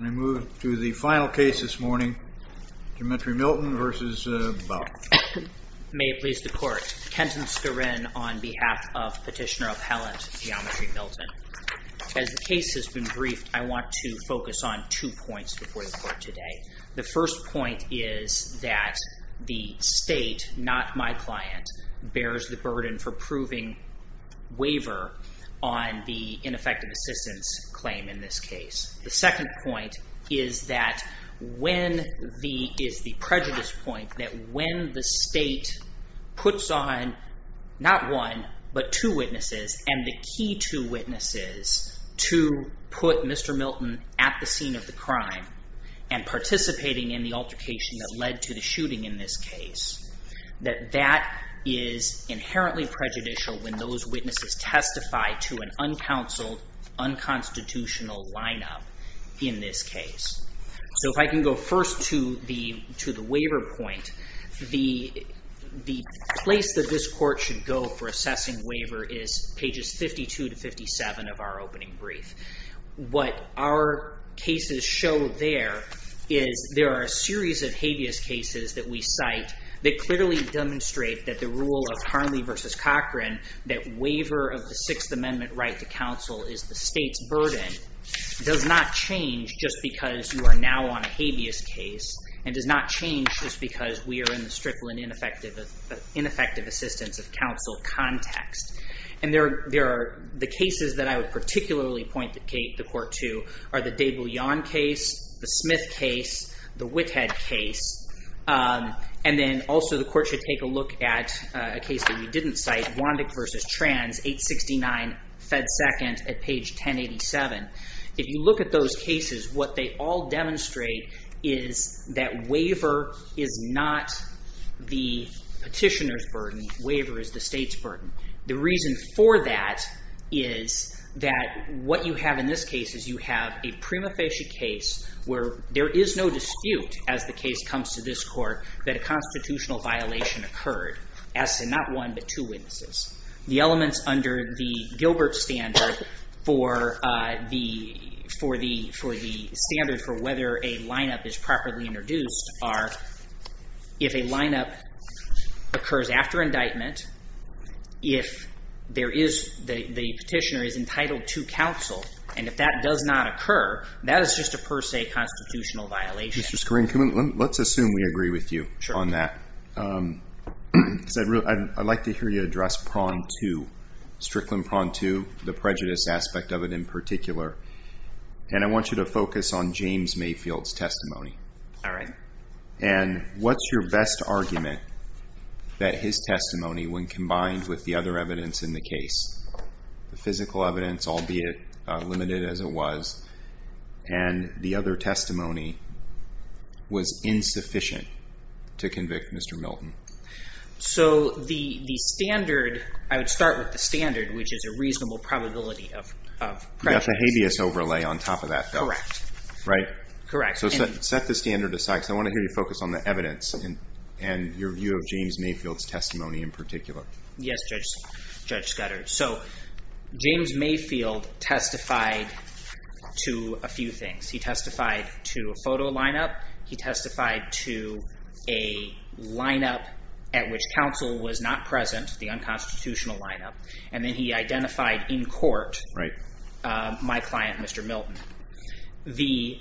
I move to the final case this morning, Geometry Milton v. Boughton. May it please the Court. Kenton Skurin on behalf of Petitioner Appellant Geometry Milton. As the case has been briefed, I want to focus on two points before the Court today. The first point is that the State, not my client, bears the burden for proving waiver on the ineffective assistance claim in this case. The second point is the prejudice point that when the State puts on not one, but two witnesses, and the key two witnesses to put Mr. Milton at the scene of the crime and participating in the altercation that led to the shooting in this case, that that is inherently prejudicial when those witnesses testify to an uncounseled, unconstitutional lineup in this case. So if I can go first to the waiver point, the place that this Court should go for assessing waiver is pages 52 to 57 of our opening brief. What our cases show there is there are a series of habeas cases that we cite that clearly demonstrate that the rule of Harley v. Cochran that waiver of the Sixth Amendment right to counsel is the State's burden does not change just because you are now on a habeas case and does not change just because we are in the Strickland ineffective assistance of counsel context. And there are the cases that I would particularly point the Court to are the Day-Bullion case, the Smith case, the Whithead case, and then also the Court should take a look at a case that we didn't cite, Wondick v. Trans, 869 Fed 2nd at page 1087. If you look at those cases, what they all demonstrate is that waiver is not the petitioner's burden, waiver is the State's burden. The reason for that is that what you have in this case is you have a prima facie case where there is no dispute as the case comes to this Court that a constitutional violation occurred as to not one but two witnesses. The elements under the Gilbert standard for the standard for whether a lineup is properly introduced are if a lineup occurs after indictment, if there is the petitioner is entitled to counsel, and if that does not occur, that is just a per se constitutional violation. Mr. Scorian, let's assume we agree with you on that. I'd like to hear you address prong two, Strickland prong two, the prejudice aspect of it in particular. And I want you to focus on James Mayfield's testimony. All right. And what's your best argument that his testimony, when combined with the other evidence in the case, the physical evidence, albeit limited as it was, and the other testimony, was insufficient to convict Mr. Milton? So the standard, I would start with the standard, which is a reasonable probability of prejudice. You've got the habeas overlay on top of that. Correct. Right? Correct. So set the standard aside because I want to hear you focus on the evidence and your view of James Mayfield's testimony in particular. Yes, Judge Scudder. So James Mayfield testified to a few things. He testified to a photo lineup. He testified to a lineup at which counsel was not present, the unconstitutional lineup. And then he identified in court my client, Mr. Milton. The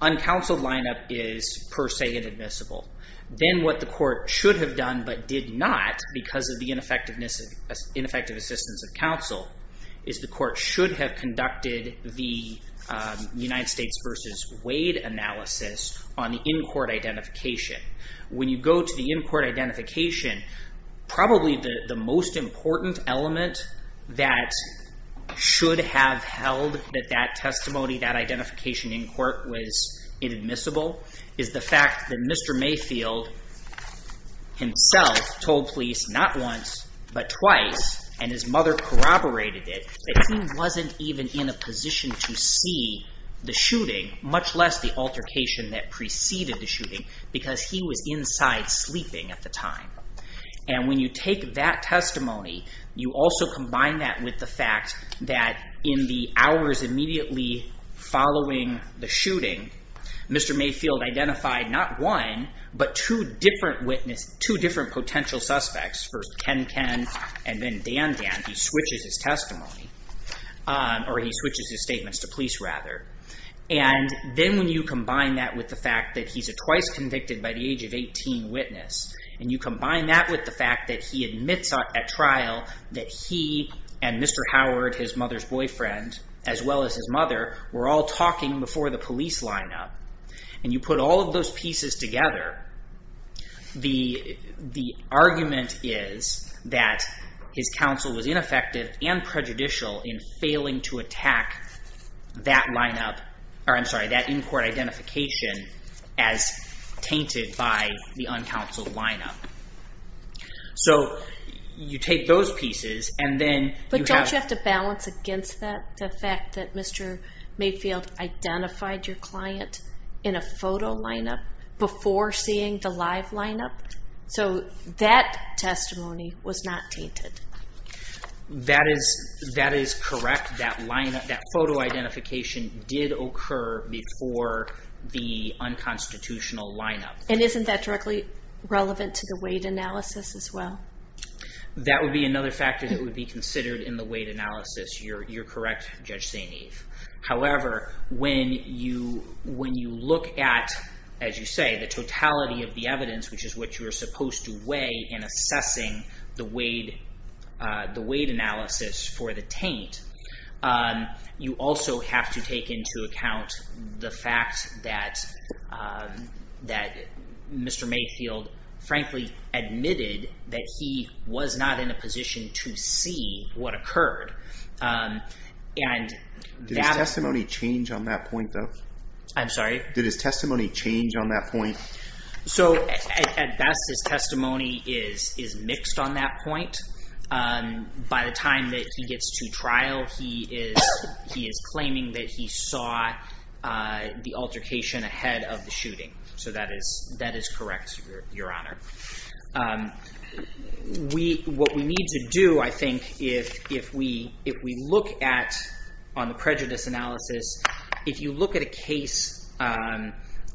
uncounseled lineup is per se inadmissible. Then what the court should have done but did not, because of the ineffective assistance of counsel, is the court should have conducted the United States v. Wade analysis on the in-court identification. When you go to the in-court identification, probably the most important element that should have held that that testimony, that identification in court was inadmissible, is the fact that Mr. Mayfield himself told police not once but twice, and his mother corroborated it, that he wasn't even in a position to see the shooting, much less the altercation that preceded the shooting, because he was inside sleeping at the time. And when you take that testimony, you also combine that with the fact that in the hours immediately following the shooting, Mr. Mayfield identified not one but two different potential suspects, first Ken Ken and then Dan Dan. He switches his testimony, or he switches his statements to police rather. And then when you combine that with the fact that he's a twice convicted by the age of 18 witness, and you combine that with the fact that he admits at trial that he and Mr. Howard, his mother's boyfriend, as well as his mother, were all talking before the police lineup, and you put all of those pieces together, the argument is that his counsel was ineffective and prejudicial in failing to attack that lineup, or I'm sorry, that in-court identification as tainted by the uncounseled lineup. So you take those pieces and then you have... But don't you have to balance against that, the fact that Mr. Mayfield identified your client in a photo lineup before seeing the live lineup? So that testimony was not tainted. That is correct. That photo identification did occur before the unconstitutional lineup. And isn't that directly relevant to the weight analysis as well? That would be another factor that would be considered in the weight analysis. You're correct, Judge St. Eve. However, when you look at, as you say, the totality of the evidence, which is what you are supposed to weigh in assessing the weight analysis for the taint, you also have to take into account the fact that Mr. Mayfield frankly admitted that he was not in a position to see what occurred. Did his testimony change on that point, though? I'm sorry? Did his testimony change on that point? So at best, his testimony is mixed on that point. By the time that he gets to trial, he is claiming that he saw the altercation ahead of the shooting. So that is correct, Your Honor. What we need to do, I think, if we look at on the prejudice analysis, if you look at a case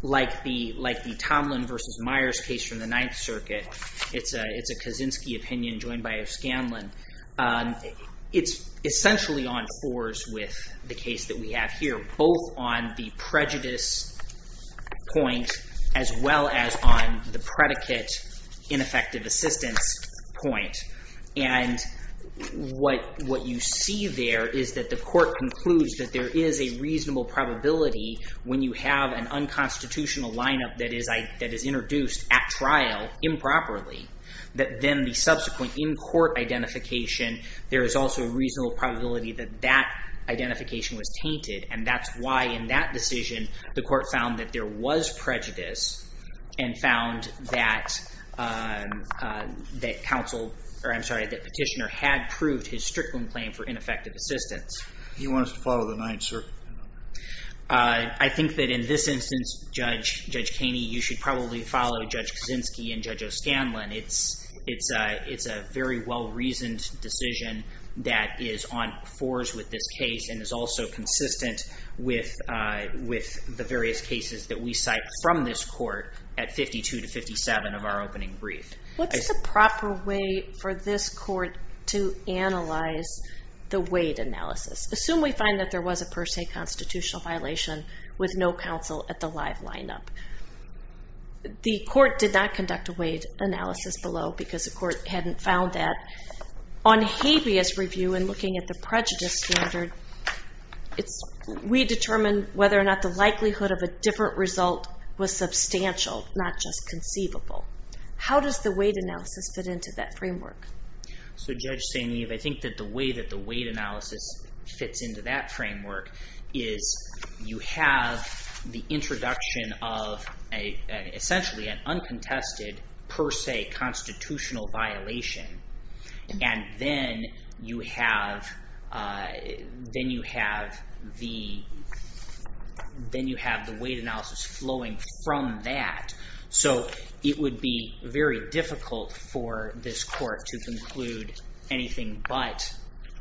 like the Tomlin v. Myers case from the Ninth Circuit, it's a Kaczynski opinion joined by O'Scanlan. It's essentially on fours with the case that we have here, both on the prejudice point as well as on the predicate ineffective assistance point. And what you see there is that the court concludes that there is a reasonable probability when you have an unconstitutional lineup that is introduced at trial improperly, that then the subsequent in-court identification, there is also a reasonable probability that that identification was tainted, and that's why in that decision the court found that there was prejudice and found that Petitioner had proved his Strickland claim for ineffective assistance. Do you want us to follow the Ninth Circuit? I think that in this instance, Judge Kaney, you should probably follow Judge Kaczynski and Judge O'Scanlan. It's a very well-reasoned decision that is on fours with this case and is also consistent with the various cases that we cite from this court at 52 to 57 of our opening brief. What's the proper way for this court to analyze the Wade analysis? Assume we find that there was a per se constitutional violation with no counsel at the live lineup. The court did not conduct a Wade analysis below because the court hadn't found that. On habeas review and looking at the prejudice standard, we determined whether or not the likelihood of a different result was substantial, not just conceivable. How does the Wade analysis fit into that framework? So, Judge St. Eve, I think that the way that the Wade analysis fits into that framework is you have the introduction of essentially an uncontested per se constitutional violation, and then you have the Wade analysis flowing from that. So it would be very difficult for this court to conclude anything but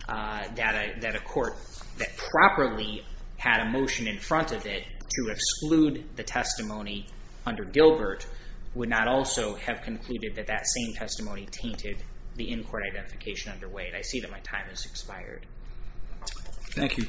that a court that properly had a motion in front of it to exclude the testimony under Gilbert would not also have concluded that that same testimony tainted the in-court identification under Wade. I see that my time has expired. Thank you.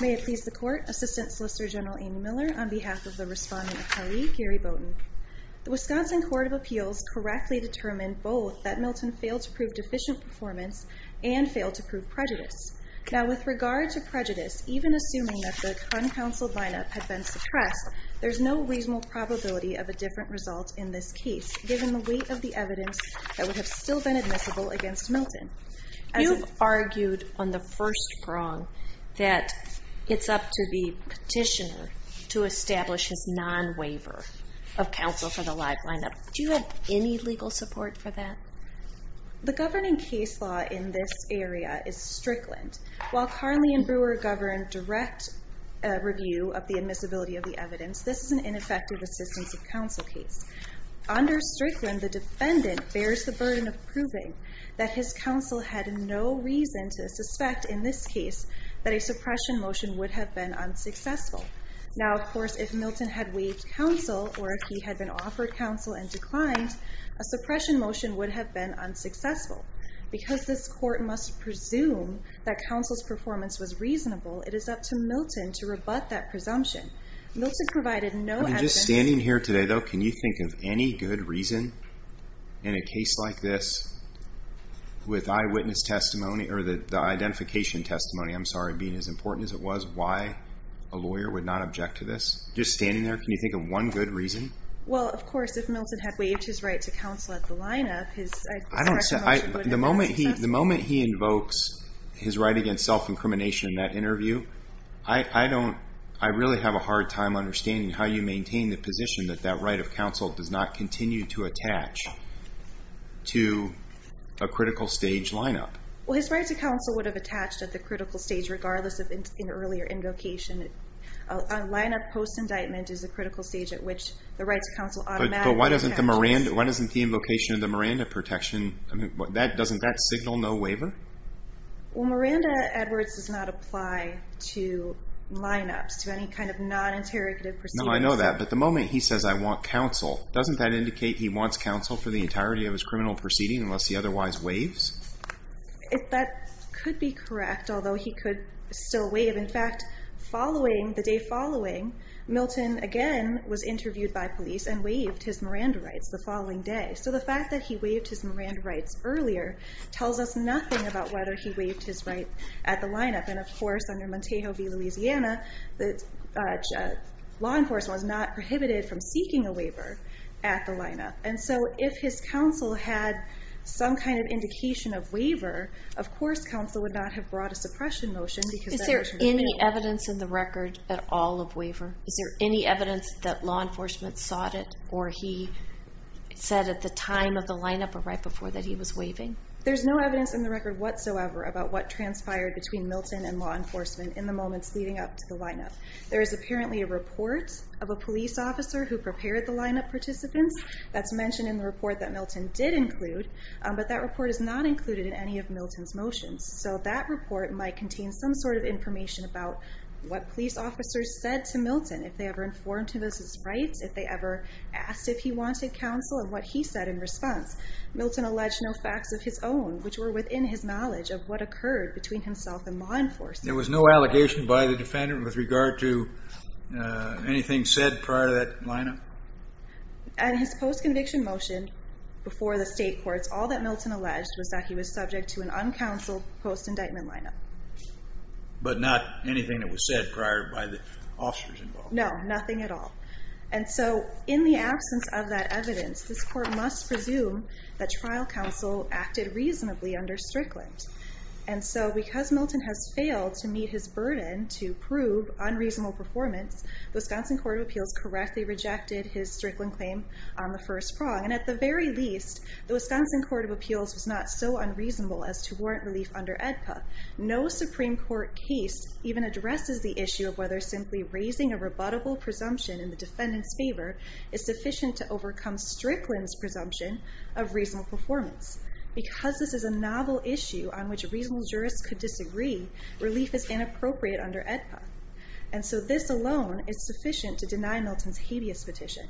May it please the Court, Assistant Solicitor General Amy Miller, on behalf of the responding party, Gary Bowden. The Wisconsin Court of Appeals correctly determined both that Milton failed to prove deficient performance and failed to prove prejudice. Now, with regard to prejudice, even assuming that the uncounseled line-up had been suppressed, there's no reasonable probability of a different result in this case, given the weight of the evidence that would have still been admissible against Milton. You've argued on the first prong that it's up to the petitioner to establish his non-waiver of counsel for the live line-up. Do you have any legal support for that? The governing case law in this area is Strickland. While Carnley and Brewer govern direct review of the admissibility of the evidence, this is an ineffective assistance of counsel case. Under Strickland, the defendant bears the burden of proving that his counsel had no reason to suspect in this case that a suppression motion would have been unsuccessful. Now, of course, if Milton had waived counsel or if he had been offered counsel and declined, a suppression motion would have been unsuccessful. Because this court must presume that counsel's performance was reasonable, it is up to Milton to rebut that presumption. Milton provided no evidence... I mean, just standing here today, though, can you think of any good reason in a case like this with eyewitness testimony or the identification testimony, I'm sorry, being as important as it was, why a lawyer would not object to this? Just standing there, can you think of one good reason? Well, of course, if Milton had waived his right to counsel at the lineup, his suppression motion would have been... The moment he invokes his right against self-incrimination in that interview, I really have a hard time understanding how you maintain the position that that right of counsel does not continue to attach to a critical stage lineup. Well, his right to counsel would have attached at the critical stage regardless of an earlier invocation. A lineup post-indictment is a critical stage at which the right to counsel automatically... But why doesn't the invocation of the Miranda protection, doesn't that signal no waiver? Well, Miranda Edwards does not apply to lineups, to any kind of non-interrogative proceedings. No, I know that, but the moment he says, I want counsel, doesn't that indicate he wants counsel for the entirety of his criminal proceeding unless he otherwise waives? That could be correct, although he could still waive. In fact, the day following, Milton again was interviewed by police and waived his Miranda rights the following day. So the fact that he waived his Miranda rights earlier tells us nothing about whether he waived his right at the lineup. And of course, under Montejo v. Louisiana, law enforcement was not prohibited from seeking a waiver at the lineup. And so if his counsel had some kind of indication of waiver, of course counsel would not have brought a suppression motion because... Is there any evidence in the record at all of waiver? Is there any evidence that law enforcement sought it or he said at the time of the lineup or right before that he was waiving? There's no evidence in the record whatsoever about what transpired between Milton and law enforcement in the moments leading up to the lineup. There is apparently a report of a police officer who prepared the lineup participants. That's mentioned in the report that Milton did include, but that report is not included in any of Milton's motions. So that report might contain some sort of information about what police officers said to Milton, if they ever informed him of his rights, if they ever asked if he wanted counsel and what he said in response. Milton alleged no facts of his own which were within his knowledge of what occurred between himself and law enforcement. There was no allegation by the defendant with regard to anything said prior to that lineup? And his post-conviction motion before the state courts, all that Milton alleged was that he was subject to an uncounseled post-indictment lineup. But not anything that was said prior by the officers involved? No, nothing at all. And so in the absence of that evidence, this court must presume that trial counsel acted reasonably under Strickland. And so because Milton has failed to meet his burden to prove unreasonable performance, the Wisconsin Court of Appeals correctly rejected his Strickland claim on the first prong. And at the very least, the Wisconsin Court of Appeals was not so unreasonable as to warrant relief under AEDPA. No Supreme Court case even addresses the issue of whether simply raising a rebuttable presumption in the defendant's favor is sufficient to overcome Strickland's presumption of reasonable performance. Because this is a novel issue on which reasonable jurists could disagree, relief is inappropriate under AEDPA. And so this alone is sufficient to deny Milton's hideous petition.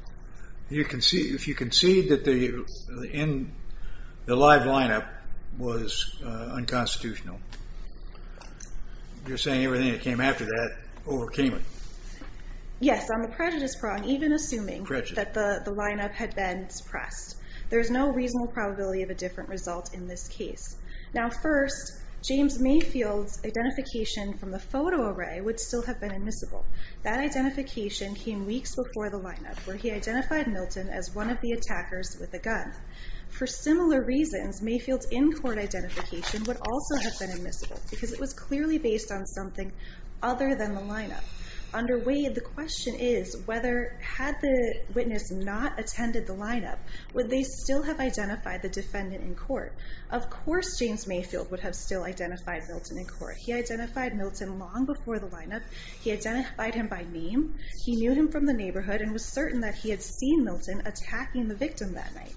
If you concede that the live lineup was unconstitutional, you're saying everything that came after that overcame it. Yes, on the prejudice prong, even assuming that the lineup had been suppressed. There's no reasonable probability of a different result in this case. Now first, James Mayfield's identification from the photo array would still have been admissible. That identification came weeks before the lineup, where he identified Milton as one of the attackers with a gun. For similar reasons, Mayfield's in-court identification would also have been admissible, because it was clearly based on something other than the lineup. Under Wade, the question is, had the witness not attended the lineup, would they still have identified the defendant in court? Of course James Mayfield would have still identified Milton in court. He identified Milton long before the lineup. He identified him by name. He knew him from the neighborhood and was certain that he had seen Milton attacking the victim that night.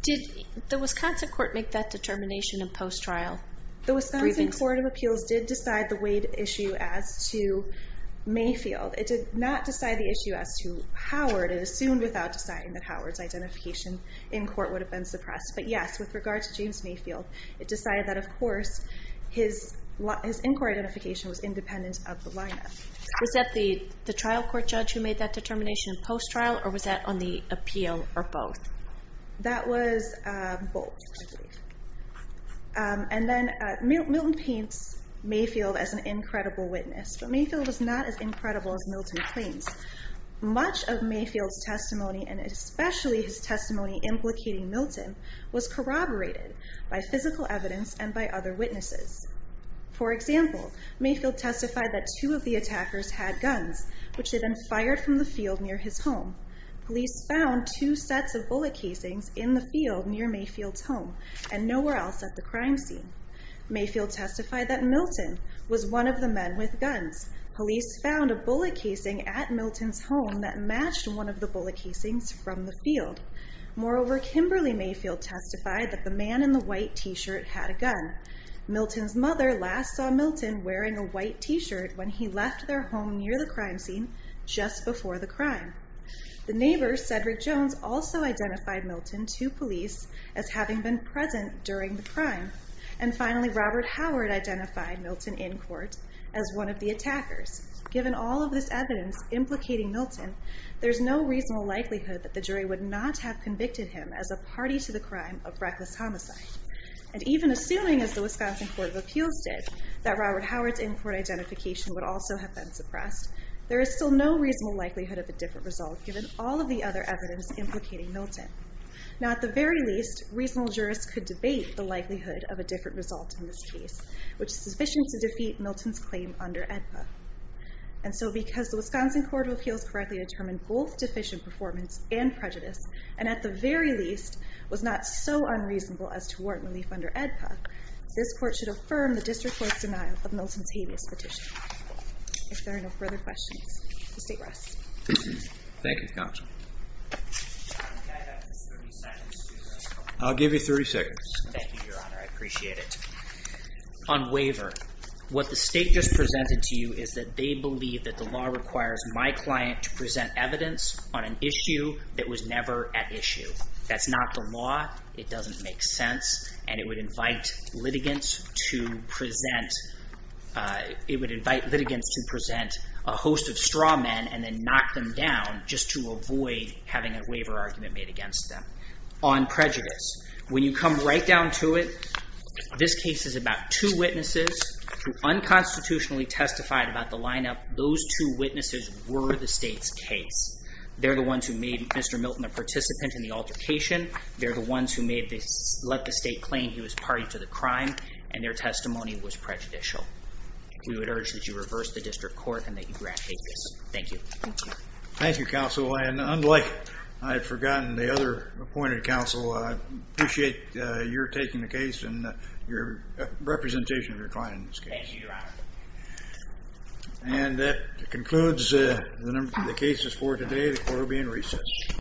Did the Wisconsin court make that determination in post-trial? The Wisconsin Court of Appeals did decide the Wade issue as to Mayfield. It did not decide the issue as to Howard. It assumed without deciding that Howard's identification in court would have been suppressed. But yes, with regard to James Mayfield, it decided that, of course, his in-court identification was independent of the lineup. Was that the trial court judge who made that determination in post-trial, or was that on the appeal, or both? That was both, I believe. And then Milton paints Mayfield as an incredible witness. But Mayfield was not as incredible as Milton claims. Much of Mayfield's testimony, and especially his testimony implicating Milton, was corroborated by physical evidence and by other witnesses. For example, Mayfield testified that two of the attackers had guns, which had been fired from the field near his home. Police found two sets of bullet casings in the field near Mayfield's home and nowhere else at the crime scene. Mayfield testified that Milton was one of the men with guns. Police found a bullet casing at Milton's home that matched one of the bullet casings from the field. Moreover, Kimberly Mayfield testified that the man in the white t-shirt had a gun. Milton's mother last saw Milton wearing a white t-shirt when he left their home near the crime scene just before the crime. The neighbor, Cedric Jones, also identified Milton to police as having been present during the crime. And finally, Robert Howard identified Milton in court as one of the attackers. Given all of this evidence implicating Milton, there's no reasonable likelihood that the jury would not have convicted him as a party to the crime of reckless homicide. And even assuming, as the Wisconsin Court of Appeals did, that Robert Howard's in-court identification would also have been suppressed, there is still no reasonable likelihood of a different result given all of the other evidence implicating Milton. Now at the very least, reasonable jurists could debate the likelihood of a different result in this case, which is sufficient to defeat Milton's claim under AEDPA. And so because the Wisconsin Court of Appeals correctly determined both deficient performance and prejudice, and at the very least, was not so unreasonable as to warrant relief under AEDPA, this Court should affirm the District Court's denial of Milton's habeas petition. If there are no further questions, the State rests. Thank you, Counsel. I'll give you 30 seconds. Thank you, Your Honor. I appreciate it. On waiver, what the State just presented to you is that they believe that the law requires my client to present evidence on an issue that was never at issue. That's not the law. It doesn't make sense. And it would invite litigants to present a host of straw men and then knock them down just to avoid having a waiver argument made against them on prejudice. When you come right down to it, this case is about two witnesses who unconstitutionally testified about the lineup. Those two witnesses were the State's case. They're the ones who made Mr. Milton a participant in the altercation. They're the ones who let the State claim he was party to the crime, and their testimony was prejudicial. We would urge that you reverse the District Court and that you grant habeas. Thank you. Thank you, Counsel. And unlike I had forgotten the other appointed Counsel, I appreciate your taking the case and your representation of your client in this case. Thank you, Your Honor. And that concludes the cases for today. The Court will be in recess.